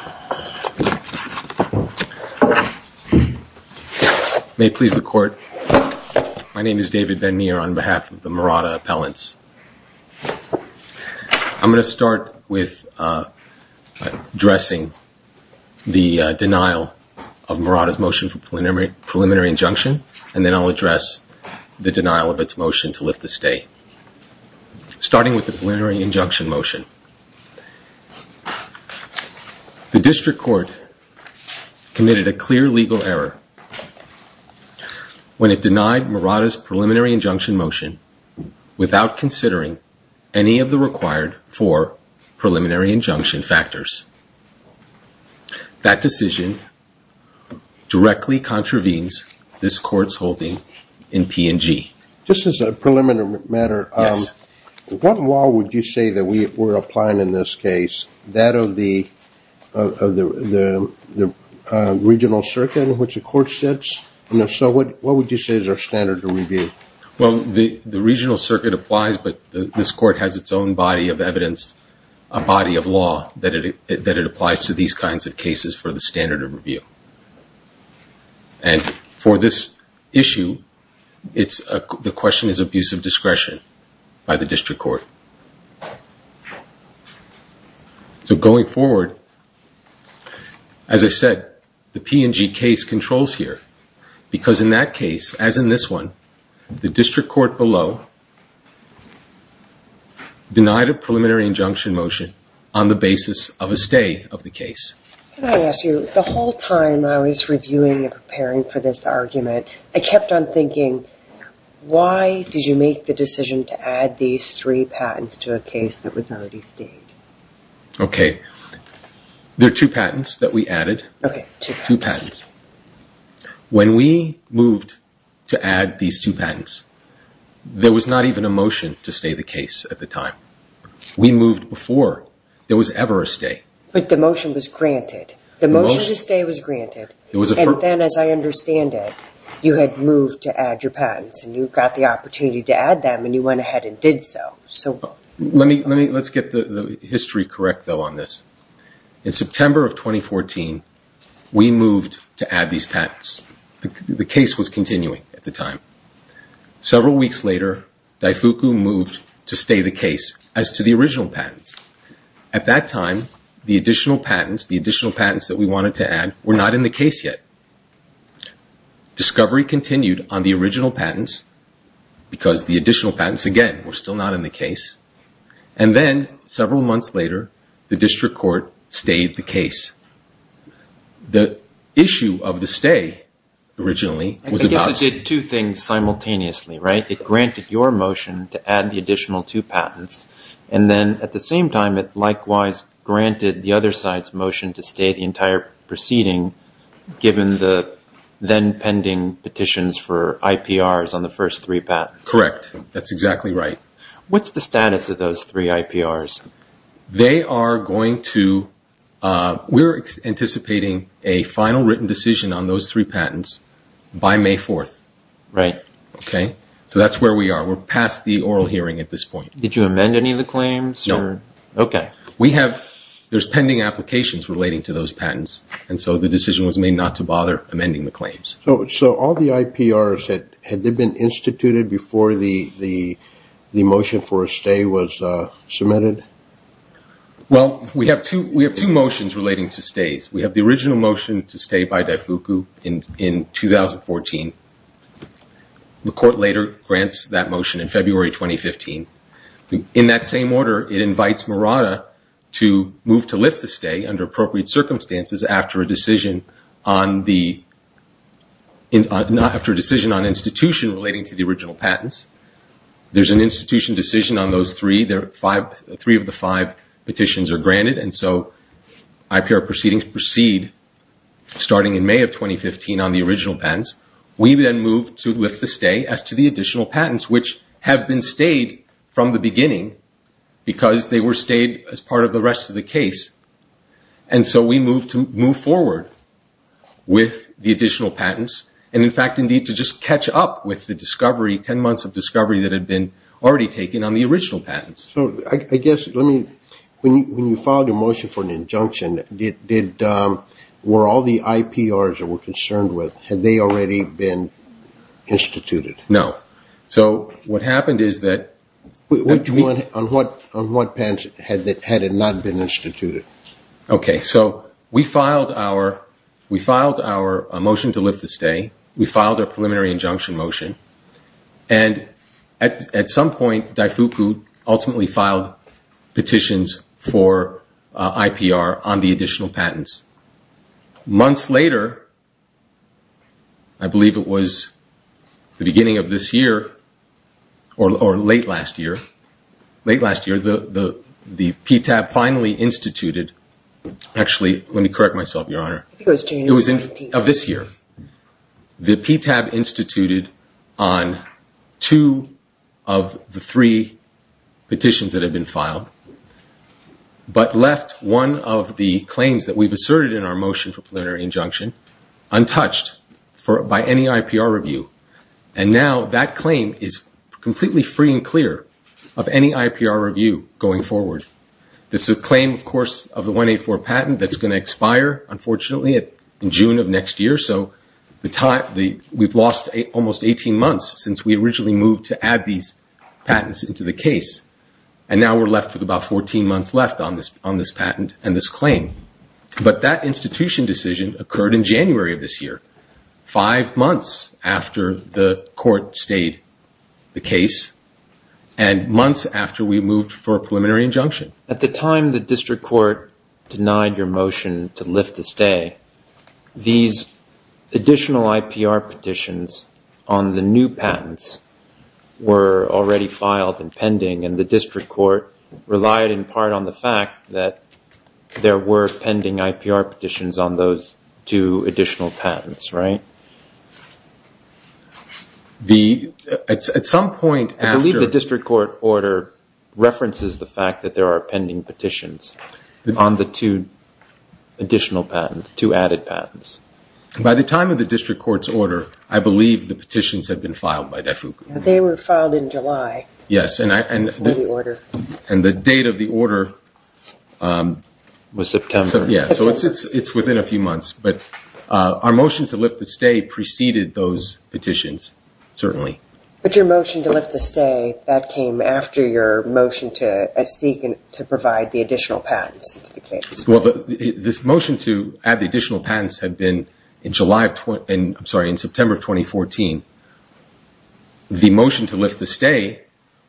This video was made in Cooperation with the U.S. Department of State. Thank you for watching. Please see the complete disclaimer at https://sites.google.com or the link in the description. Please see the complete disclaimer at https://sites.google.com or the link in the description. Please see the complete disclaimer at https://sites.google.com or the link in the description. I'm going to start with addressing the denial of Murata's motion for preliminary injunction, and then I'll address the denial of its motion to lift the stay. Starting with the preliminary injunction motion. The district court committed a clear legal error when it denied Murata's preliminary injunction motion without considering any of the required four preliminary injunction factors. That decision directly contravenes this court's holding in P&G. Just as a preliminary matter, what law would you say that we're applying in this case, that of the regional circuit in which the court sits? And if so, what would you say is our standard of review? Because in that case, as in this one, the district court below denied a preliminary injunction motion on the basis of a stay of the case. There are two patents that we added. When we moved to add these two patents, there was not even a motion to stay the case at the time. We moved before there was ever a stay. The motion to stay was granted, and then as I understand it, you had moved to add your patents and you got the opportunity to add them and you went ahead and did so. Let's get the history correct, though, on this. In September of 2014, we moved to add these patents. The case was continuing at the time. Several weeks later, Daifuku moved to stay the case as to the original patents. At that time, the additional patents that we wanted to add were not in the case yet. Discovery continued on the original patents because the additional patents, again, were still not in the case. And then several months later, the district court stayed the case. The issue of the stay originally was about... I guess it did two things simultaneously, right? It granted your motion to add the additional two patents, and then at the same time, it likewise granted the other side's motion to stay the entire proceeding given the then pending petitions for IPRs on the first three patents. Correct. That's exactly right. What's the status of those three IPRs? We're anticipating a final written decision on those three patents by May 4th. So that's where we are. We're past the oral hearing at this point. Did you amend any of the claims? No. So all the IPRs, had they been instituted before the motion for a stay was submitted? Well, we have two motions relating to stays. We have the original motion to stay by Daifuku in 2014. The court later grants that motion in February 2015. In that same order, it invites Murata to move to lift the stay under appropriate circumstances after a decision on institution relating to the original patents. There's an institution decision on those three. Three of the five petitions are granted, and so IPR proceedings proceed starting in May of 2015 on the original patents, and we then move to lift the stay as to the additional patents, which have been stayed from the beginning because they were stayed as part of the rest of the case. And so we move forward with the additional patents, and in fact, indeed, to just catch up with the discovery, 10 months of discovery that had been already taken on the original patents. When you filed a motion for an injunction, were all the IPRs that we're concerned with, had they already been instituted? No. On what patents had it not been instituted? We filed our motion to lift the stay. We filed our preliminary injunction motion, and at some point, Daifuku ultimately filed petitions for IPR on the additional patents. Months later, I believe it was the beginning of this year, or late last year, the PTAB finally instituted, actually, let me correct myself, Your Honor. It was of this year. The PTAB instituted on two of the three petitions that had been filed, but left one of the claims that we've asserted in our motion for preliminary injunction untouched by any IPR review, and now that claim is completely free and clear of any IPR review going forward. This is a claim, of course, of the 184 patent that's going to expire, unfortunately, in June of next year, so we've lost almost 18 months since we originally moved to add these patents into the case, and now we're left with about 14 months left on this patent and this claim. But that institution decision occurred in January of this year, five months after the court stayed the case, and months after we moved for a preliminary injunction. At the time the district court denied your motion to lift the stay, these additional IPR petitions on the new patents were already filed and pending, and the district court relied in part on the fact that there were pending IPR petitions on those two additional patents, right? At some point after... I believe the district court order references the fact that there are pending petitions on the two additional patents, two added patents. By the time of the district court's order, I believe the petitions had been filed by DEFU. They were filed in July. Yes, and the date of the order was September. So it's within a few months, but our motion to lift the stay preceded those petitions, certainly. But your motion to lift the stay, that came after your motion to seek and provide the additional patents into the case. Well, this motion to add the additional patents had been in September of 2014. The motion to lift the stay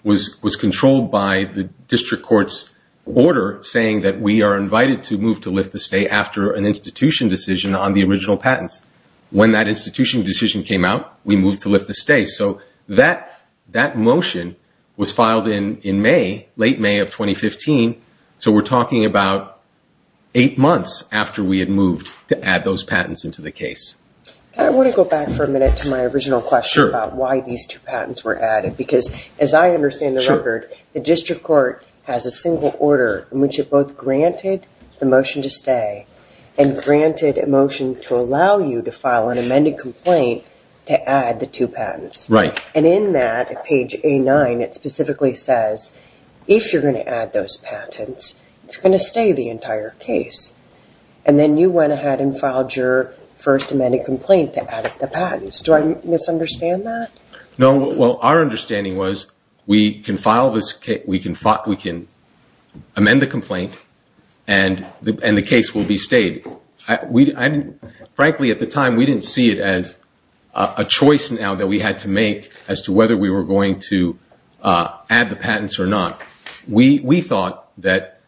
was controlled by the district court's order, saying that we are invited to move to lift the stay after an institution decision on the original patents. When that institution decision came out, we moved to lift the stay. So that motion was filed in May, late May of 2015, so we're talking about eight months after we had moved to add those patents into the case. I want to go back for a minute to my original question about why these two patents were added, because as I understand the record, the district court has a single order in which it both granted the motion to stay and granted a motion to allow you to file an amended complaint to add the two patents. And in that, at page A9, it specifically says, if you're going to add those patents, it's going to stay the entire case. And then you went ahead and filed your first amended complaint to add the patents. Do I misunderstand that? No. Well, our understanding was we can amend the complaint and the case will be stayed. Frankly, at the time, we didn't see it as a choice now that we had to make as to whether we were going to add the patents or not. We thought that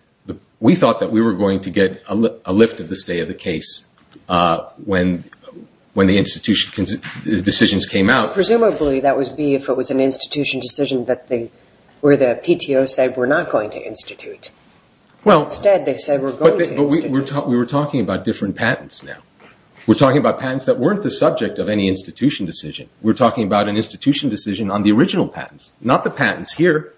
we were going to get a lift of the stay of the case when the institution decisions came out. Presumably that would be if it was an institution decision where the PTO said we're not going to institute. Instead, they said we're going to institute. We were talking about different patents now. We're talking about patents that weren't the subject of any institution decision. We're talking about an institution decision on the original patents, not the patents here.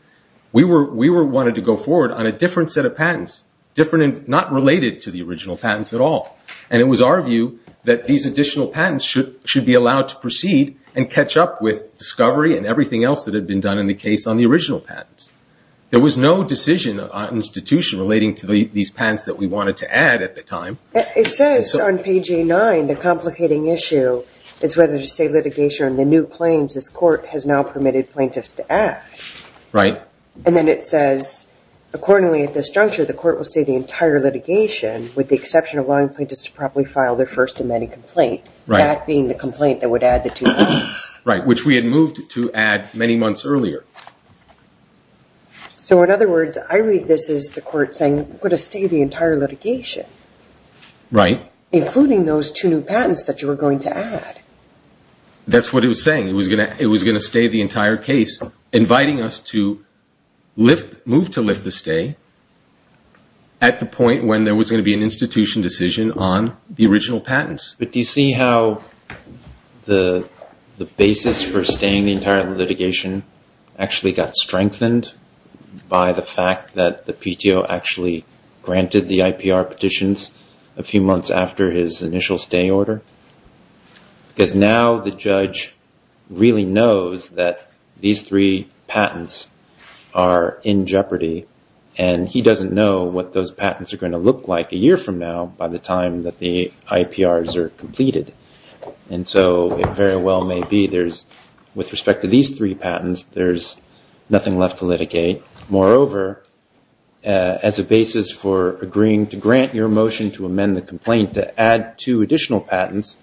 We wanted to go forward on a different set of patents, not related to the original patents at all. And it was our view that these additional patents should be allowed to proceed and catch up with discovery and everything else that had been done in the case on the original patents. There was no decision on institution relating to these patents that we wanted to add at the time. It says on page A9, the complicating issue is whether to say litigation on the new claims this court has now permitted plaintiffs to add. And then it says, accordingly at this juncture, the court will stay the entire litigation with the exception of allowing plaintiffs to properly file their first amended complaint. That being the complaint that would add the two patents. Right, which we had moved to add many months earlier. So in other words, I read this as the court saying we're going to stay the entire litigation. Right. Including those two new patents that you were going to add. That's what it was saying. It was going to stay the entire case, inviting us to move to lift the stay at the point when there was going to be an institution decision on the original patents. But do you see how the basis for staying the entire litigation actually got strengthened by the fact that the PTO actually granted the IPR petitions a few months after his initial stay order? Because now the judge really knows that these three patents are in jeopardy and he doesn't know what those patents are going to look like a year from now by the time that the IPRs are completed. And so it very well may be there's, with respect to these three patents, there's nothing left to litigate. Moreover, as a basis for agreeing to grant your motion to amend the complaint to add two additional patents,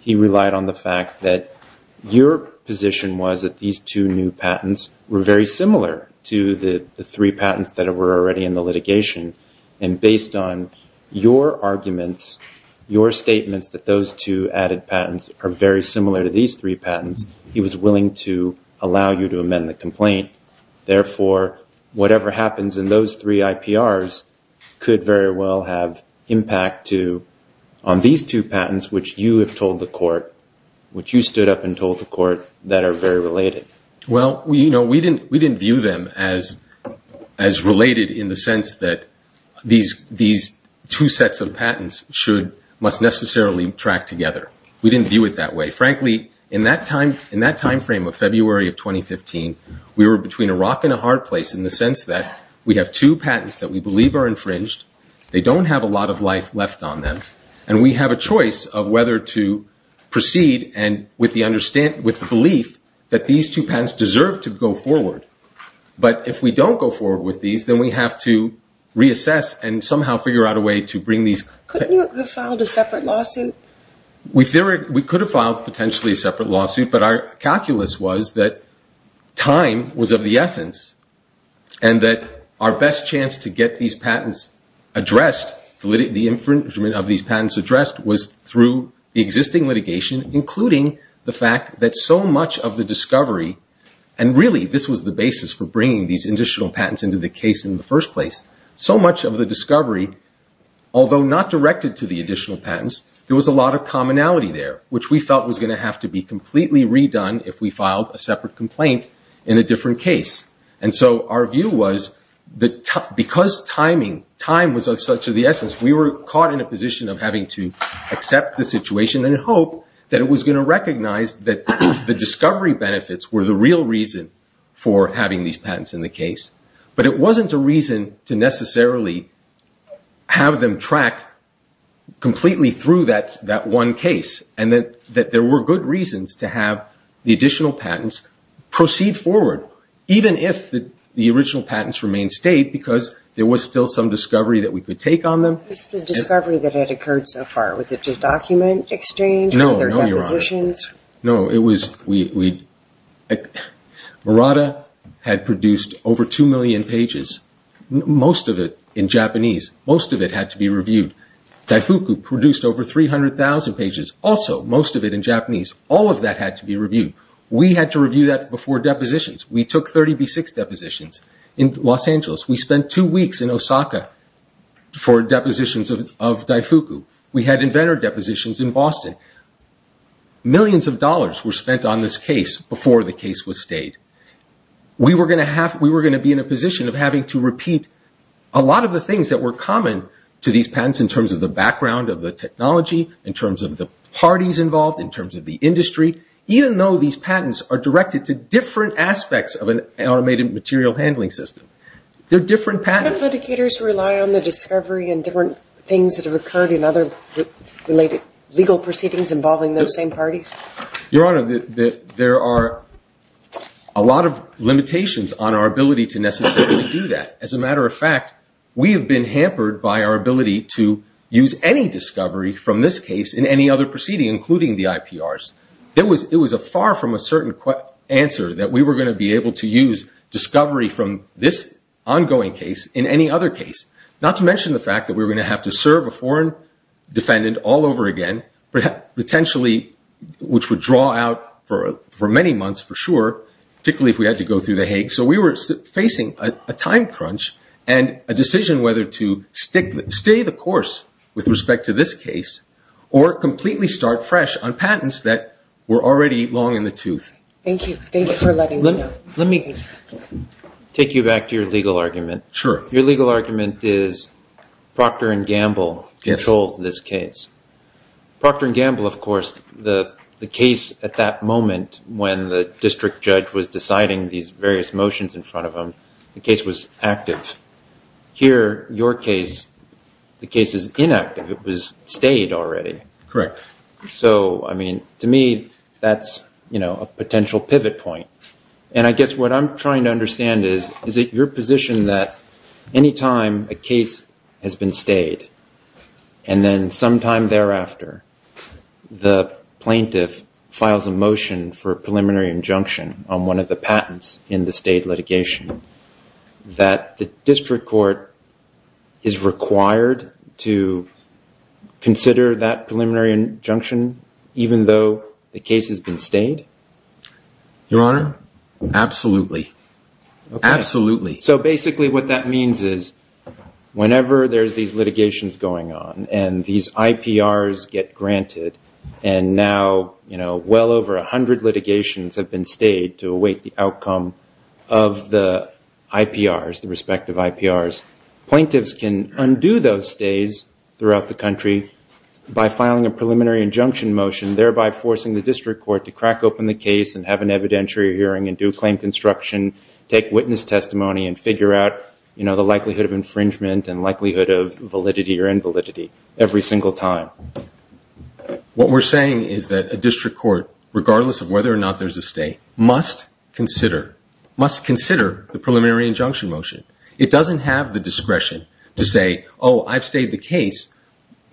he relied on the fact that your position was that these two new patents were very similar to the three patents that were already in the litigation. And based on your arguments, your statements that those two added patents are very similar to these three patents, he was willing to allow you to amend the complaint. Therefore, whatever happens in those three IPRs could very well have impact on these two patents, which you have told the court, which you stood up and told the court that are very related. Well, we didn't view them as related in the sense that these two sets of patents must necessarily track together. We didn't view it that way. Frankly, in that time frame of February of 2015, we were between a rock and a hard place in the sense that we have two patents that we believe are infringed, they don't have a lot of life left on them, and we have a choice of whether to proceed with the belief that these two patents deserve to go forward. But if we don't go forward with these, then we have to reassess and somehow figure out a way to bring these. Couldn't you have filed a separate lawsuit? We could have filed potentially a separate lawsuit, but our calculus was that time was of the essence, and that our best chance to get these patents addressed, the infringement of these patents addressed, was through the existing litigation, including the fact that so much of the discovery, and really this was the basis for bringing these additional patents into the case in the first place, so much of the discovery, although not directed to the additional patents, there was a lot of commonality there, which we felt was going to have to be completely redone if we filed a separate complaint in a different case. And so our view was that because time was of such an essence, we were caught in a position of having to accept the situation and hope that it was going to recognize that the discovery benefits were the real reason for having these patents in the case, but it wasn't a reason to necessarily have them track completely through that one case, and that there were good reasons to have the additional patents proceed forward, even if the original patents remained state, because there was still some discovery that we could take on them. Was the discovery that had occurred so far, was it just document exchange, other depositions? No, no, Your Honor. Murata had produced over 2 million pages, most of it in Japanese, most of it had to be reviewed. Daifuku produced over 300,000 pages, also most of it in Japanese, all of that had to be reviewed. We had to review that before depositions. We took 36 depositions in Los Angeles. We spent two weeks in Osaka for depositions of Daifuku. We had inventor depositions in Boston. Millions of dollars were spent on this case before the case was state. We were going to be in a position of having to repeat a lot of the things that were common to these patents, in terms of the background of the technology, in terms of the parties involved, in terms of the industry, even though these patents are directed to different aspects of an automated material handling system. They're different patents. Do patent litigators rely on the discovery and different things that have occurred in other legal proceedings involving those same parties? Your Honor, there are a lot of limitations on our ability to necessarily do that. As a matter of fact, we have been hampered by our ability to use any discovery from this case in any other proceeding, including the IPRs. It was far from a certain answer that we were going to be able to use discovery from this ongoing case in any other proceeding. Not to mention the fact that we were going to have to serve a foreign defendant all over again, potentially, which would draw out for many months for sure, particularly if we had to go through the Hague. We were facing a time crunch and a decision whether to stay the course with respect to this case, or completely start fresh on patents that were already long in the tooth. Let me take you back to your legal argument. Your legal argument is Procter & Gamble controls this case. Procter & Gamble, of course, the case at that moment when the district judge was deciding these various motions in front of him, the case was active. Here, your case, the case is inactive. It was stayed already. To me, that's a potential pivot point. What I'm trying to understand is, is it your position that any time a case has been stayed, and then sometime thereafter, the plaintiff files a motion for a preliminary injunction on one of the patents in the state litigation, that the district court is required to consider that preliminary injunction, even though the case has been stayed? Your Honor, absolutely. So basically what that means is, whenever there's these litigations going on, and these IPRs get granted, and now well over 100 litigations have been stayed to await the outcome of the IPR, the respective IPRs, plaintiffs can undo those stays throughout the country by filing a preliminary injunction motion, thereby forcing the district court to crack open the case and have an evidentiary hearing and do claim construction, take witness testimony and figure out the likelihood of infringement and likelihood of validity or invalidity every single time. What we're saying is that a district court, regardless of whether or not there's a stay, must consider. The preliminary injunction motion, it doesn't have the discretion to say, oh, I've stayed the case,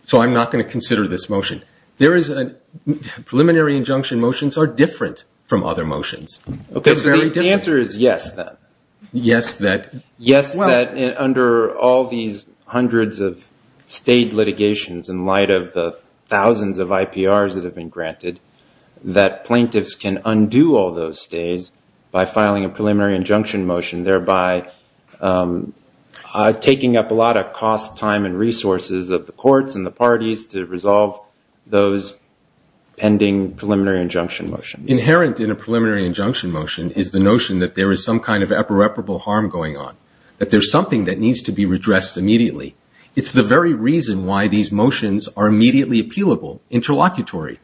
so I'm not going to consider this motion. Preliminary injunction motions are different from other motions. The answer is yes, then. Yes, that under all these hundreds of stayed litigations in light of the thousands of IPRs that have been granted, that plaintiffs can undo all those stays by filing a preliminary injunction motion, thereby taking up a lot of cost, time and resources of the courts and the parties to resolve those pending preliminary injunction motions. Inherent in a preliminary injunction motion is the notion that there is some kind of irreparable harm going on, that there's something that needs to be redressed immediately. It's the very reason why these motions are immediately appealable, interlocutory.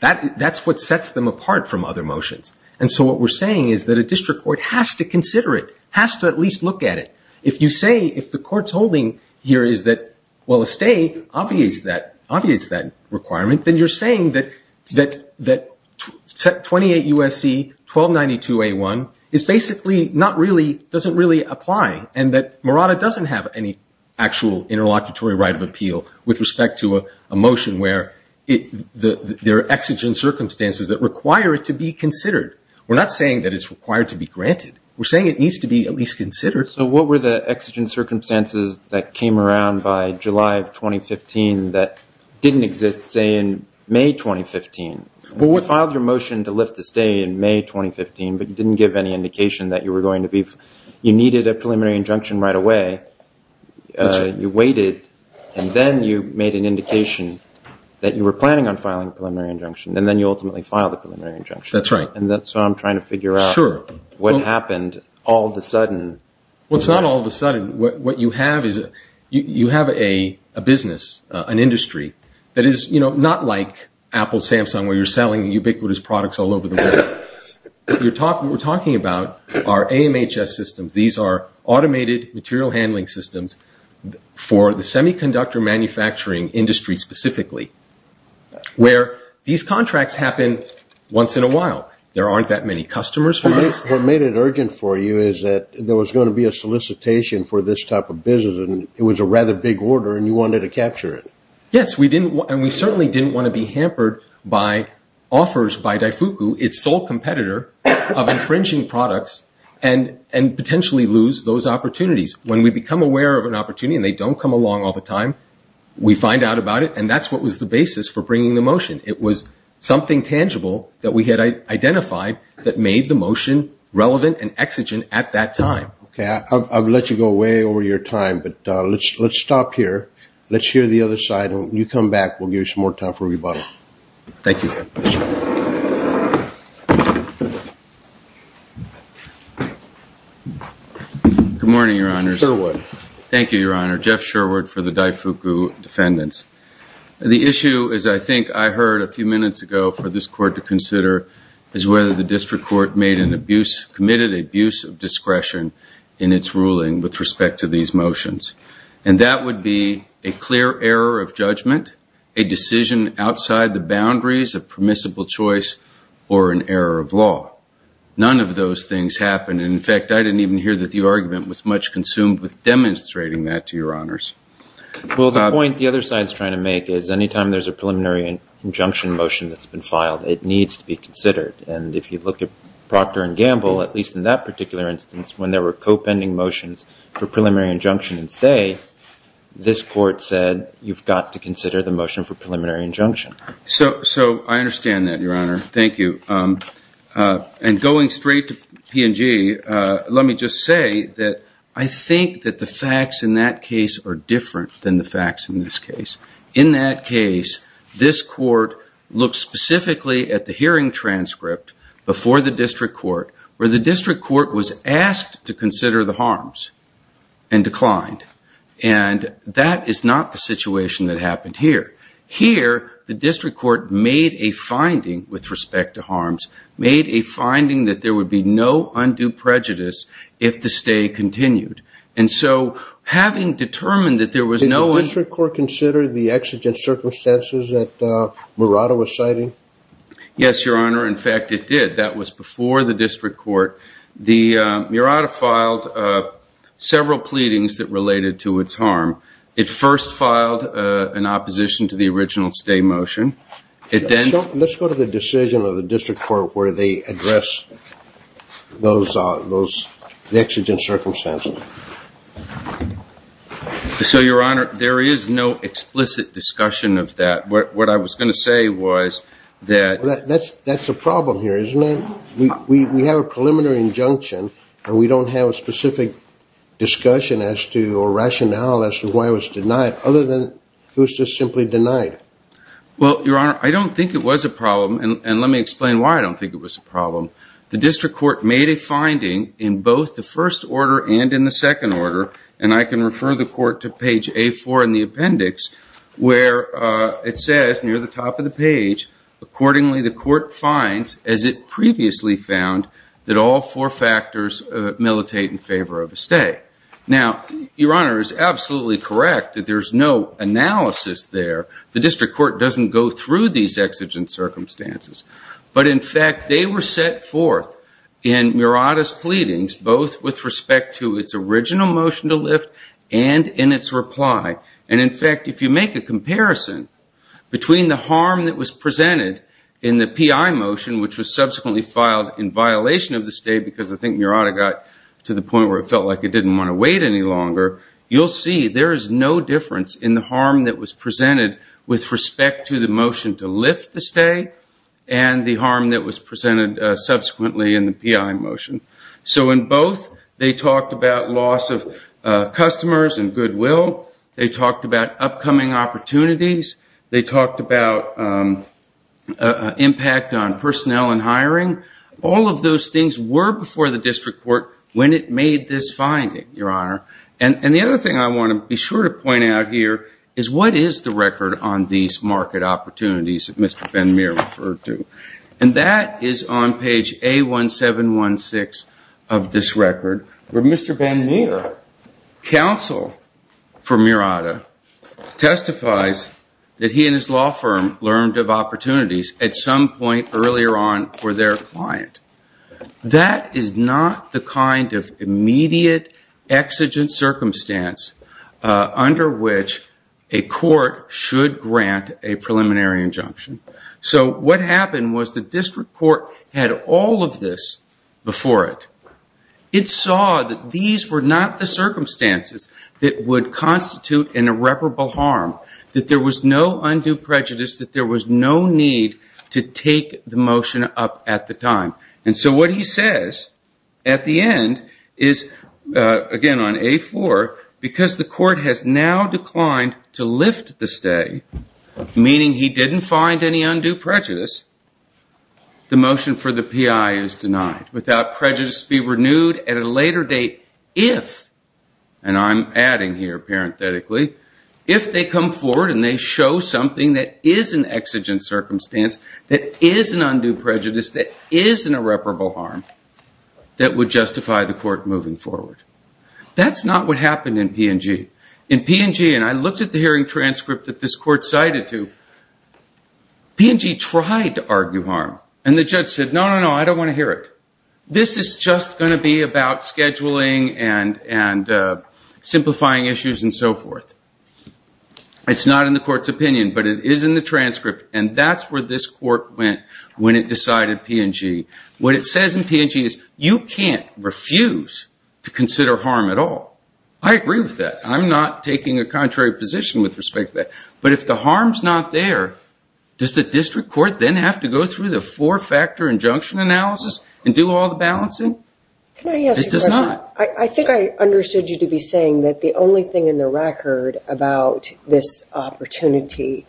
That's what sets them apart from other motions. And so what we're saying is that a district court has to consider it, has to at least look at it. If you say, if the court's holding here is that, well, a stay obviates that requirement, then you're saying that 28 U.S.C. 1292A1 is basically not really, doesn't really apply, and that Morata doesn't have any actual interlocutory right of appeal with respect to a motion where there are exigent circumstances that require it to be considered. We're not saying that it's required to be granted. We're saying it needs to be at least considered. So what were the exigent circumstances that came around by July of 2015 that didn't exist, say, in May 2015? You filed your motion to lift the stay in May 2015, but you didn't give any indication that you were going to be, you needed a preliminary injunction right away. You waited, and then you made an indication that you were planning on filing a preliminary injunction, and then you ultimately filed a preliminary injunction. And so I'm trying to figure out what happened all of a sudden. Well, it's not all of a sudden. You have a business, an industry that is not like Apple, Samsung, where you're selling ubiquitous products all over the world. We're talking about our AMHS systems. These are automated material handling systems for the semiconductor manufacturing industry specifically, where these contracts happen once in a while. There aren't that many customers for this. What made it urgent for you is that there was going to be a solicitation for this type of business, and it was a rather big order, and you wanted to capture it. Yes, and we certainly didn't want to be hampered by offers by Daifuku, its sole competitor of infringing products and potentially lose those opportunities. When we become aware of an opportunity and they don't come along all the time, we find out about it, and that's what was the basis for bringing the motion. It was something tangible that we had identified that made the motion relevant and exigent at that time. Okay, I've let you go way over your time, but let's stop here. Let's hear the other side, and when you come back, we'll give you some more time for rebuttal. Thank you. Good morning, Your Honors. Thank you, Your Honor. Jeff Sherwood for the Daifuku Defendants. The issue, as I think I heard a few minutes ago for this court to consider, is whether the district court committed an abuse of discretion in its ruling with respect to these motions, and that would be a clear error of judgment, a decision outside the boundaries of permissible choice, or an error of law. None of those things happened, and, in fact, I didn't even hear that the argument was much consumed with demonstrating that to Your Honors. Well, the point the other side is trying to make is anytime there's a preliminary injunction motion that's been filed, it needs to be considered, and if you look at Procter & Gamble, at least in that particular instance, when there were co-pending motions for preliminary injunction and stay, this court said you've got to consider the motion for preliminary injunction. So I understand that, Your Honor. Thank you. And going straight to P&G, let me just say that I think that the facts in that case are different than the facts in this case. In that case, this court looked specifically at the hearing transcript before the district court, where the district court was asked to consider the harms and declined, and that is not the situation that happened here. Here, the district court made a finding with respect to harms, made a finding that there would be no undue prejudice if the stay continued. And so having determined that there was no... Did the district court consider the exigent circumstances that Murata was citing? Yes, Your Honor. In fact, it did. That was before the district court. Murata filed several pleadings that related to its harm. It first filed an opposition to the original stay motion. Let's go to the decision of the district court where they address the exigent circumstances. So, Your Honor, there is no explicit discussion of that. What I was going to say was that... That's the problem here, isn't it? We have a preliminary injunction, and we don't have a specific discussion or rationale as to why it was denied, other than it was just simply denied. Well, Your Honor, I don't think it was a problem, and let me explain why I don't think it was a problem. The district court made a finding in both the first order and in the second order, and I can refer the court to page A4 in the appendix, where it says near the top of the page, accordingly the court finds, as it previously found, that all four factors militate in favor of a stay. Now, Your Honor is absolutely correct that there's no analysis there. The district court doesn't go through these exigent circumstances. But, in fact, they were set forth in Murata's pleadings, both with respect to its original motion to lift and in its reply. And, in fact, if you make a comparison between the harm that was presented in the PI motion, which was subsequently filed in violation of the stay, because I think Murata got to the point where it felt like it didn't want to wait any longer, you'll see there is no difference in the harm that was presented with respect to the motion to lift the stay and the harm that was presented subsequently in the PI motion. So, in both, they talked about loss of customers and goodwill. They talked about upcoming opportunities. They talked about impact on personnel and hiring. All of those things were before the district court when it made this finding, Your Honor. And the other thing I want to be sure to point out here is what is the record on these market opportunities that Mr. Bannier, counsel for Murata, testifies that he and his law firm learned of opportunities at some point earlier on for their client. That is not the kind of immediate exigent circumstance under which a court should grant a preliminary injunction. So, what happened was the district court had all of this before it. It saw that these were not the circumstances that would constitute an irreparable harm, that there was no undue prejudice, that there was no need to take the motion up at the time. And so what he says at the end is, again, on A4, because the court has now declined to lift the stay, meaning he didn't find an opportunity to find any undue prejudice, the motion for the PI is denied, without prejudice to be renewed at a later date if, and I'm adding here parenthetically, if they come forward and they show something that is an exigent circumstance, that is an undue prejudice, that is an irreparable harm, that would justify the court moving forward. That's not what happened in P&G. In P&G, and I looked at the hearing transcript that this court cited to, P&G tried to argue harm. And the judge said, no, no, no, I don't want to hear it. This is just going to be about scheduling and simplifying issues and so forth. It's not in the court's opinion, but it is in the transcript, and that's where this court went when it decided P&G. What it says in P&G is you can't refuse to consider harm at all. I agree with that. I'm not taking a contrary position with respect to that. But if the harm is not there, does the district court then have to go through the four-factor injunction analysis and do all the balancing? It does not. I think I understood you to be saying that the only thing in the record about this opportunity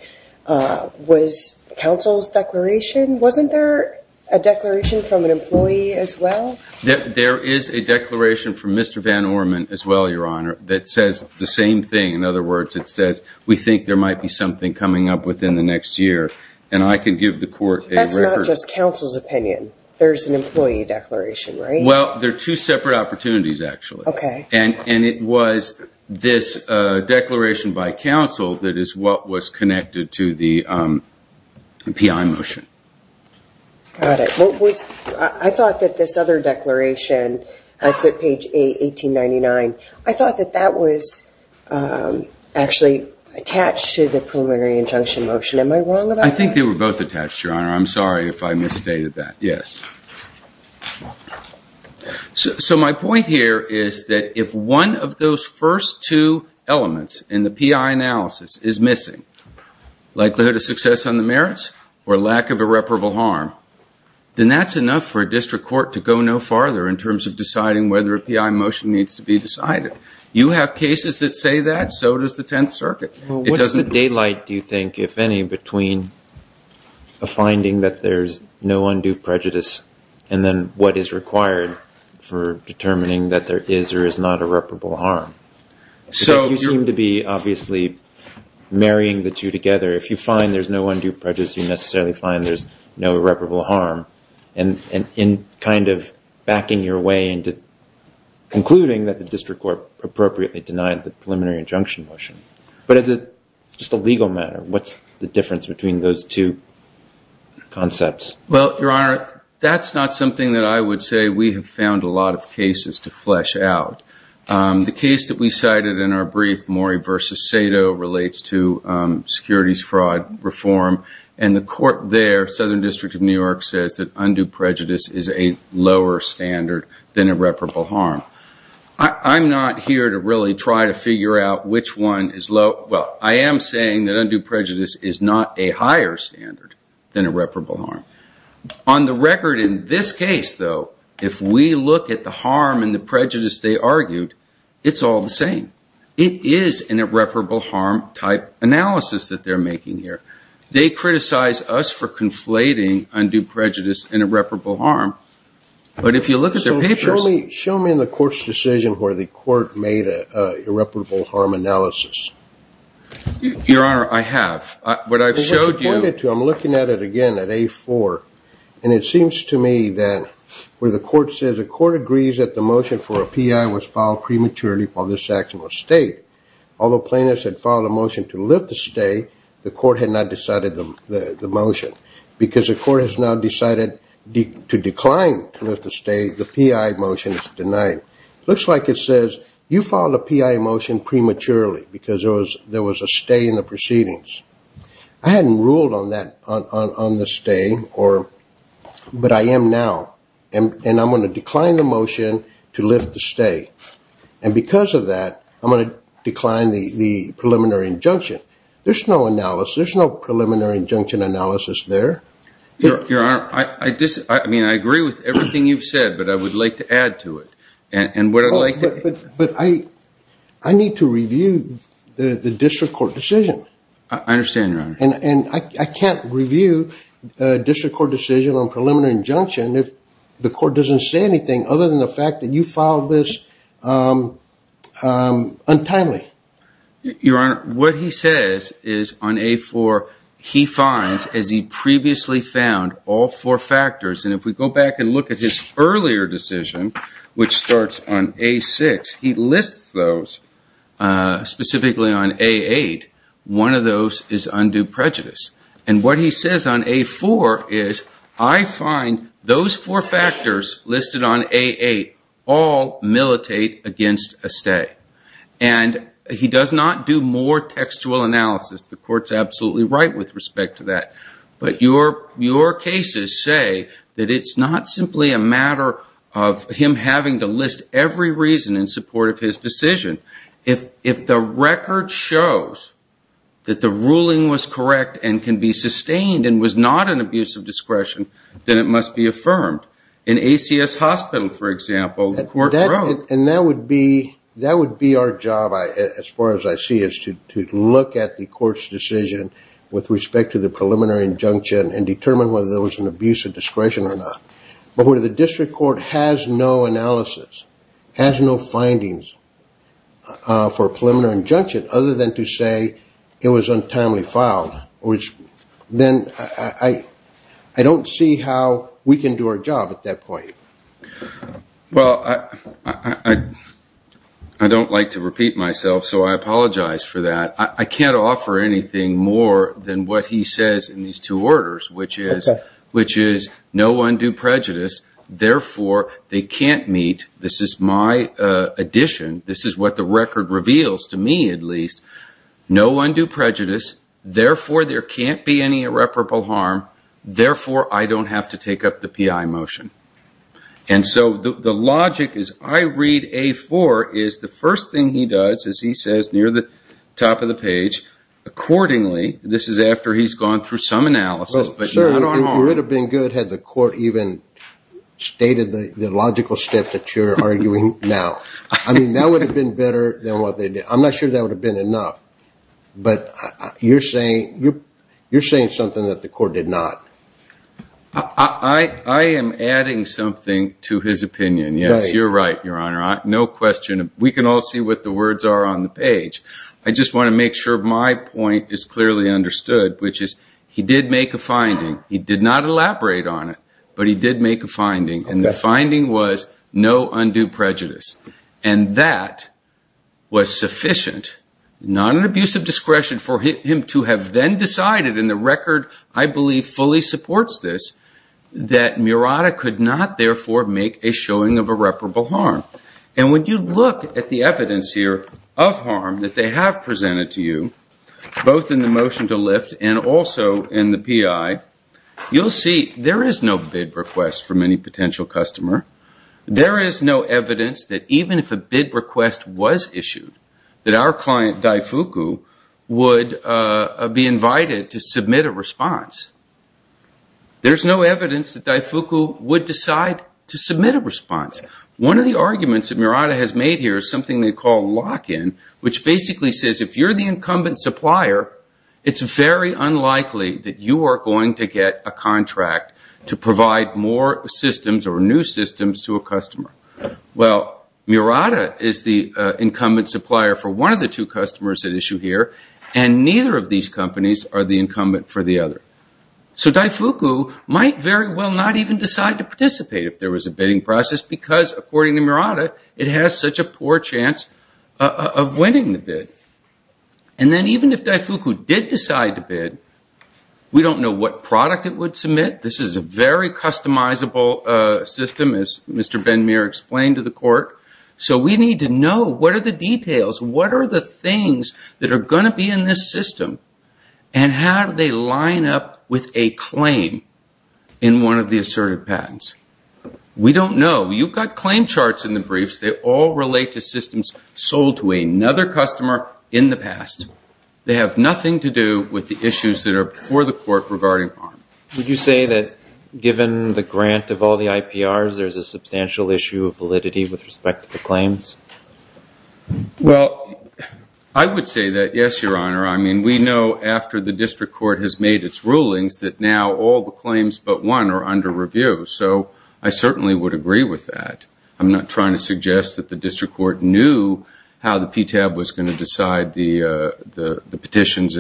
was counsel's declaration. Wasn't there a declaration from an employee as well? There is a declaration from Mr. Van Orman as well, Your Honor, that says the same thing. In other words, it says we think there might be something coming up within the next year, and I can give the court a record. That's not just counsel's opinion. There's an employee declaration, right? Well, they're two separate opportunities, actually. And it was this declaration by counsel that is what was connected to the PI motion. Got it. I thought that this other declaration, that's at page 1899, I thought that that was actually attached to the preliminary injunction motion. Am I wrong about that? I think they were both attached, Your Honor. I'm sorry if I misstated that. So my point here is that if one of those first two elements in the PI analysis is missing, likelihood of success on the merits or lack of irreparable harm, then that's enough for a district court to go no farther in terms of deciding whether a PI motion needs to be decided. You have cases that say that. And so does the Tenth Circuit. Well, what is the daylight, do you think, if any, between a finding that there's no undue prejudice and then what is required for determining that there is or is not irreparable harm? Because you seem to be, obviously, marrying the two together. If you find there's no undue prejudice, you necessarily find there's no irreparable harm. And in kind of backing your way into concluding that the district court appropriately denied the preliminary injunction motion. But as just a legal matter, what's the difference between those two concepts? Well, Your Honor, that's not something that I would say we have found a lot of cases to flesh out. The case that we cited in our brief, Morey v. Sato, relates to that undue prejudice is a lower standard than irreparable harm. I'm not here to really try to figure out which one is low. Well, I am saying that undue prejudice is not a higher standard than irreparable harm. On the record in this case, though, if we look at the harm and the prejudice they argued, it's all the same. It is an irreparable harm type analysis that they're making here. They criticize us for conflating undue prejudice and irreparable harm. But if you look at their papers... Show me in the court's decision where the court made an irreparable harm analysis. Your Honor, I have. But I've showed you... I'm looking at it again at A4, and it seems to me that where the court says, the court agrees that the motion for a P.I. was filed prematurely while this section was state. Although plaintiffs had filed a motion to lift the stay, the court had not decided the motion. Because the court has now decided to decline to lift the stay, the P.I. motion is denied. Looks like it says, you filed a P.I. motion prematurely because there was a stay in the proceedings. I hadn't ruled on the stay, but I am now. And I'm going to decline the motion to lift the stay. And because of that, I'm going to decline the preliminary injunction. There's no preliminary injunction analysis there. Your Honor, I agree with everything you've said, but I would like to add to it. But I need to review the district court decision. I understand, Your Honor. And I can't review a district court decision on preliminary injunction if the court doesn't say anything other than the fact that you filed this untimely. Your Honor, what he says is on A4, he finds, as he previously found, all four factors. And if we go back and look at his earlier decision, which starts on A6, he lists those. Specifically on A8, one of those is undue prejudice. And what he says on A4 is, I find those four factors listed on A8 all militate against a stay. And he does not do more textual analysis. The court's absolutely right with respect to that. But your cases say that it's not simply a matter of him having to list every reason in support of his decision. If the record shows that the ruling was correct and can be sustained and was not an abuse of discretion, then it must be affirmed. In ACS Hospital, for example, the court wrote... And that would be our job, as far as I see it, to look at the court's decision with respect to the preliminary injunction and determine whether there was an abuse of discretion or not. But when the district court has no analysis, has no findings for a preliminary injunction, other than to say it was untimely filed, then I don't see how we can do our job at that point. Well, I don't like to repeat myself, so I apologize for that. I can't offer anything more than what he says in these two orders, which is, no undue prejudice, therefore they can't meet... This is my addition. This is what the record reveals to me, at least. No undue prejudice, therefore there can't be any irreparable harm, therefore I don't have to take up the PI motion. And so the logic is I read A4 is the first thing he does is he says near the top of the page, accordingly, this is after he's gone through some analysis, but not on all... Well, sir, it would have been good had the court even stated the logical steps that you're arguing now. I mean, that would have been better than what they did. I'm not sure that would have been enough. But you're saying something that the court did not. I am adding something to his opinion, yes. You're right, Your Honor. No question. We can all see what the words are on the page. I just want to make sure my point is clearly understood, which is he did make a finding. He did not elaborate on it, but he did make a finding. And the finding was no undue prejudice. And that was sufficient, not an abuse of discretion, for him to have then decided, and the record, I believe, fully supports this, that Murata could not, therefore, make a showing of irreparable harm. And when you look at the evidence here of harm that they have presented to you, both in the motion to lift and also in the PI, you'll see there is no bid request from any potential customer. There is no evidence that even if a bid request was issued, that our client, Daifuku, would be invited to submit a response. There is no evidence that Daifuku would decide to submit a response. One of the arguments that Murata has made here is something they call lock-in, which basically says if you're the incumbent supplier, it's very unlikely that you are going to get a contract to provide more systems or new systems to a customer. Well, Murata is the incumbent supplier for one of the two customers at issue here, and neither of these companies are the incumbent for the other. So Daifuku might very well not even decide to participate if there was a bidding process, because according to Murata, it has such a poor chance of winning the bid. And then even if Daifuku did decide to bid, we don't know what product it would submit. This is a very customizable system, as Mr. Ben-Mir explained to the court. So we need to know what are the details, what are the things that are going to be in this system, and how do they line up with a claim in one of the assertive patents. We don't know. You've got claim charts in the briefs. They all relate to systems sold to another customer in the past. They have nothing to do with the issues that are before the court regarding harm. Would you say that given the grant of all the IPRs, there's a substantial issue of validity with respect to the claims? Well, I would say that yes, Your Honor. I mean, we know after the district court has made its rulings that now all the claims but one are under review. So I certainly would agree with that. I'm not trying to suggest that the district court knew how the PTAB was going to decide the petitions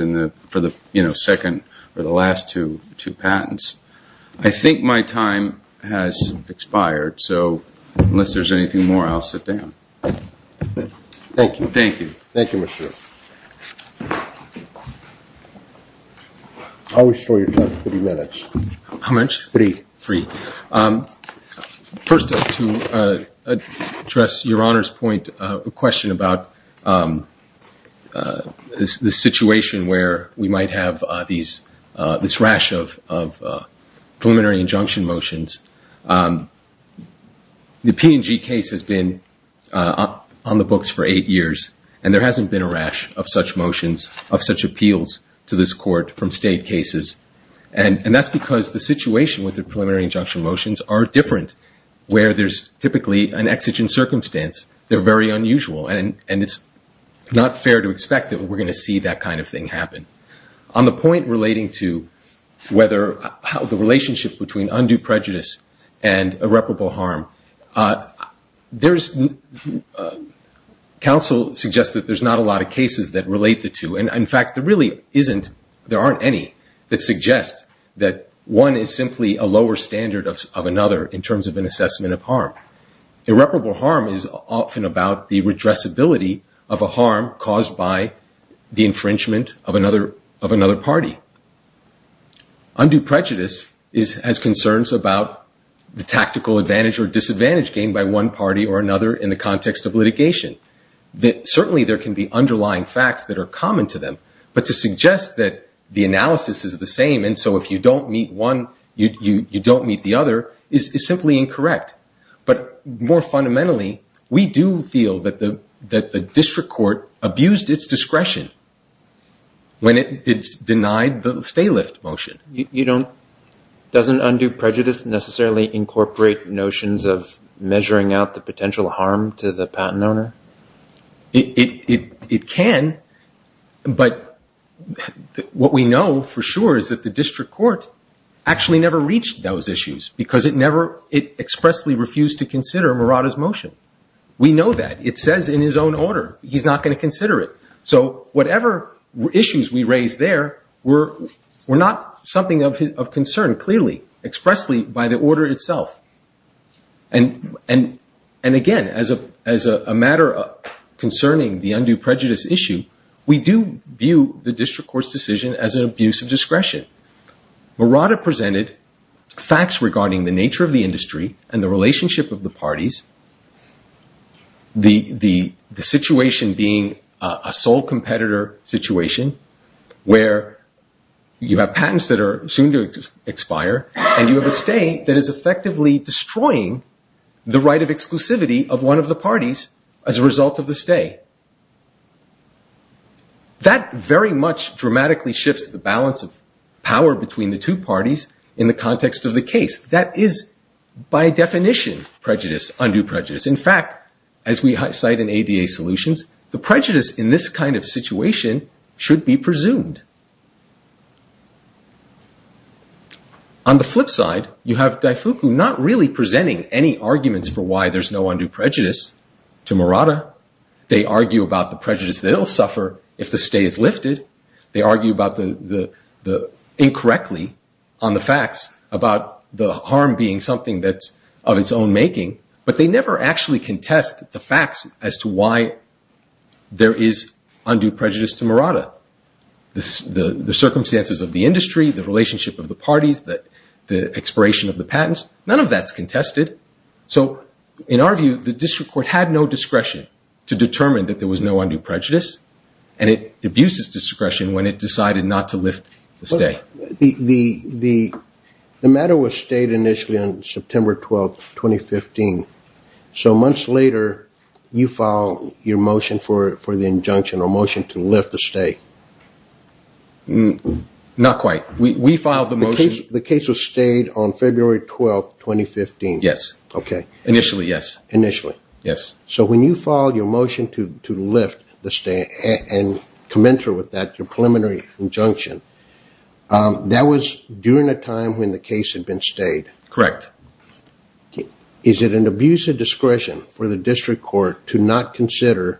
for the second or the last two patents. I think my time has expired. So unless there's anything more, I'll sit down. Thank you. Thank you. I'll restore your time to three minutes. How much? Three. Three. First, to address Your Honor's point, a question about the situation where we might have this rash of preliminary injunction motions. The P&G case has been on the books for eight years, and there hasn't been a rash of such motions, of such appeals to this court from state cases. And that's because the situation with the preliminary injunction motions are different, where there's typically an exigent circumstance. They're very unusual, and it's not fair to expect that we're going to see that kind of thing happen. On the point relating to whether the relationship between undue prejudice and irreparable harm, counsel suggests that there's not a lot of cases that relate the two. And, in fact, there aren't any that suggest that one is simply a lower standard of another in terms of an assessment of harm. Irreparable harm is often about the redressability of a harm caused by the infringement of another party. Undue prejudice has concerns about the tactical advantage or disadvantage gained by one party or another in the context of litigation. Certainly there can be underlying facts that are common to them, but to suggest that the analysis is the same, and so if you don't meet one, you don't meet the other, is simply incorrect. But more fundamentally, we do feel that the district court abused its discretion when it denied the stay-lift motion. Doesn't undue prejudice necessarily incorporate notions of measuring out the potential harm to the patent owner? It can, but what we know for sure is that the district court actually never reached those issues because it expressly refused to consider Murata's motion. We know that. It says in his own order he's not going to consider it. So whatever issues we raise there were not something of concern, clearly, expressly by the order itself. And again, as a matter concerning the undue prejudice issue, we do view the district court's decision as an abuse of discretion. Murata presented facts regarding the nature of the industry and the relationship of the parties, the situation being a sole competitor situation where you have patents that are soon to expire and you have a stay that is effectively destroying the right of exclusivity of one of the parties as a result of the stay. That very much dramatically shifts the balance of power between the two parties in the context of the case. That is, by definition, undue prejudice. In fact, as we cite in ADA Solutions, the prejudice in this kind of situation should be presumed. On the flip side, you have Daifuku not really presenting any arguments for why there's no undue prejudice to Murata. They argue about the prejudice that he'll suffer if the stay is lifted. They argue incorrectly on the facts about the harm being something that's of its own making, but they never actually contest the facts as to why there is undue prejudice to Murata. The circumstances of the industry, the relationship of the parties, the expiration of the patents, none of that's contested. So in our view, the district court had no discretion to determine that there was no undue prejudice and it abused its discretion when it decided not to lift the stay. The matter was stayed initially on September 12, 2015. So months later, you filed your motion for the injunction or motion to lift the stay. Not quite. We filed the motion. The case was stayed on February 12, 2015. Yes. Initially, yes. Initially. Yes. So when you filed your motion to lift the stay and commensurate with that, your preliminary injunction, that was during a time when the case had been stayed. Correct. Is it an abuse of discretion for the district court to not consider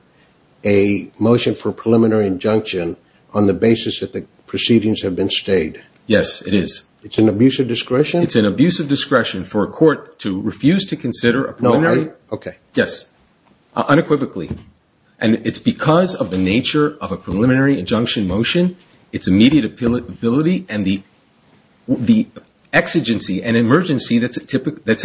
a motion for a preliminary injunction on the basis that the proceedings have been stayed? Yes, it is. It's an abuse of discretion? It's an abuse of discretion for a court to refuse to consider a preliminary. No. Sorry? Okay. Yes. Unequivocally. And it's because of the nature of a preliminary injunction motion, its immediate ability, and the exigency and emergency that's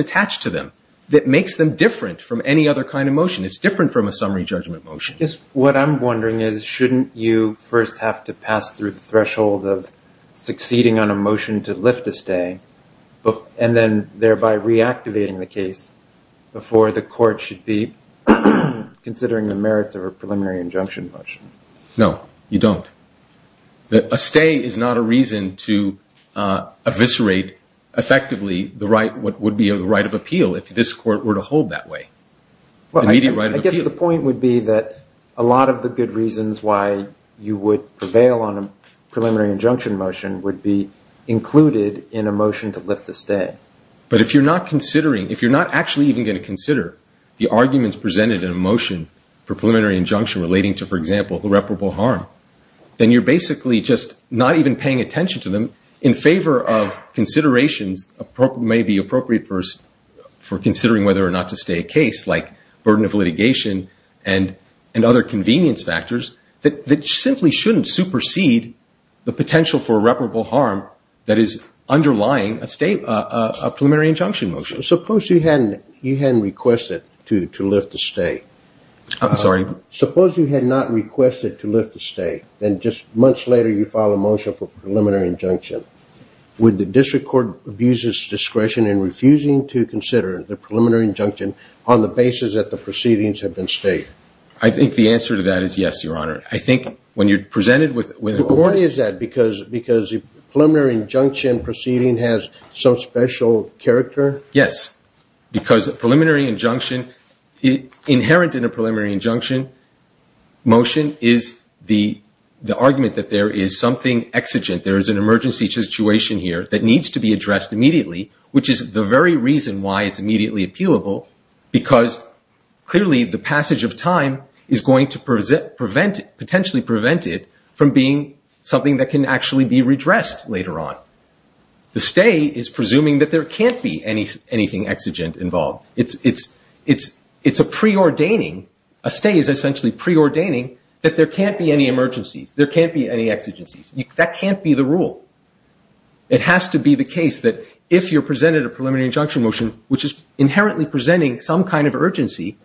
attached to them that makes them different from any other kind of motion. It's different from a summary judgment motion. What I'm wondering is shouldn't you first have to pass through the threshold of succeeding on a motion to lift a stay and then thereby reactivating the case before the court should be considering the merits of a preliminary injunction motion? No, you don't. A stay is not a reason to eviscerate effectively what would be a right of appeal if this court were to hold that way. Well, I guess the point would be that a lot of the good reasons why you would prevail on a preliminary injunction motion would be included in a motion to lift the stay. But if you're not considering, if you're not actually even going to consider the arguments presented in a motion for preliminary injunction relating to, for example, irreparable harm, then you're basically just not even paying attention to them in favor of considerations that may be appropriate for considering whether or not to stay a case, like burden of litigation and other convenience factors, that simply shouldn't supersede the potential for irreparable harm that is underlying a preliminary injunction motion. Suppose you hadn't requested to lift the stay. I'm sorry? Suppose you had not requested to lift the stay. Then just months later you file a motion for preliminary injunction. Would the district court abuse its discretion in refusing to consider the preliminary injunction on the basis that the proceedings have been stayed? I think the answer to that is yes, Your Honor. I think when you're presented with a court... Why is that? Because a preliminary injunction proceeding has some special character? Yes. Because a preliminary injunction, inherent in a preliminary injunction motion, is the argument that there is something exigent, there is an emergency situation here, that needs to be addressed immediately, which is the very reason why it's immediately appealable, because clearly the passage of time is going to potentially prevent it from being something that can actually be redressed later on. The stay is presuming that there can't be anything exigent involved. It's a preordaining. A stay is essentially preordaining that there can't be any emergencies, there can't be any exigencies. That can't be the rule. It has to be the case that if you're presented a preliminary injunction motion, which is inherently presenting some kind of urgency,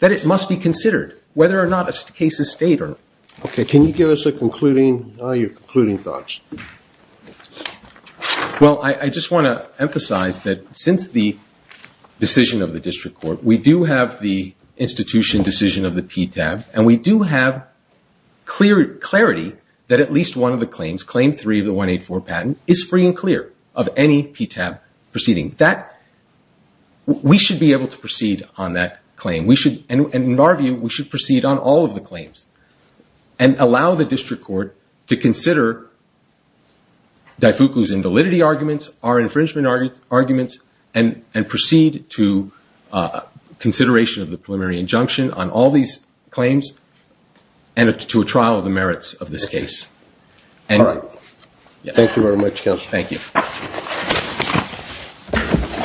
that it must be considered, whether or not a case is stayed or not. Okay. Can you give us your concluding thoughts? Well, I just want to emphasize that since the decision of the district court, we do have the institution decision of the PTAB, and we do have clarity that at least one of the claims, Claim 3 of the 184 patent, is free and clear of any PTAB proceeding. We should be able to proceed on that claim. In our view, we should proceed on all of the claims and allow the district court to consider Daifuku's invalidity arguments, our infringement arguments, and proceed to consideration of the preliminary injunction on all these claims and to a trial of the merits of this case. All right. Thank you very much, Counsel. Thank you. Thank you.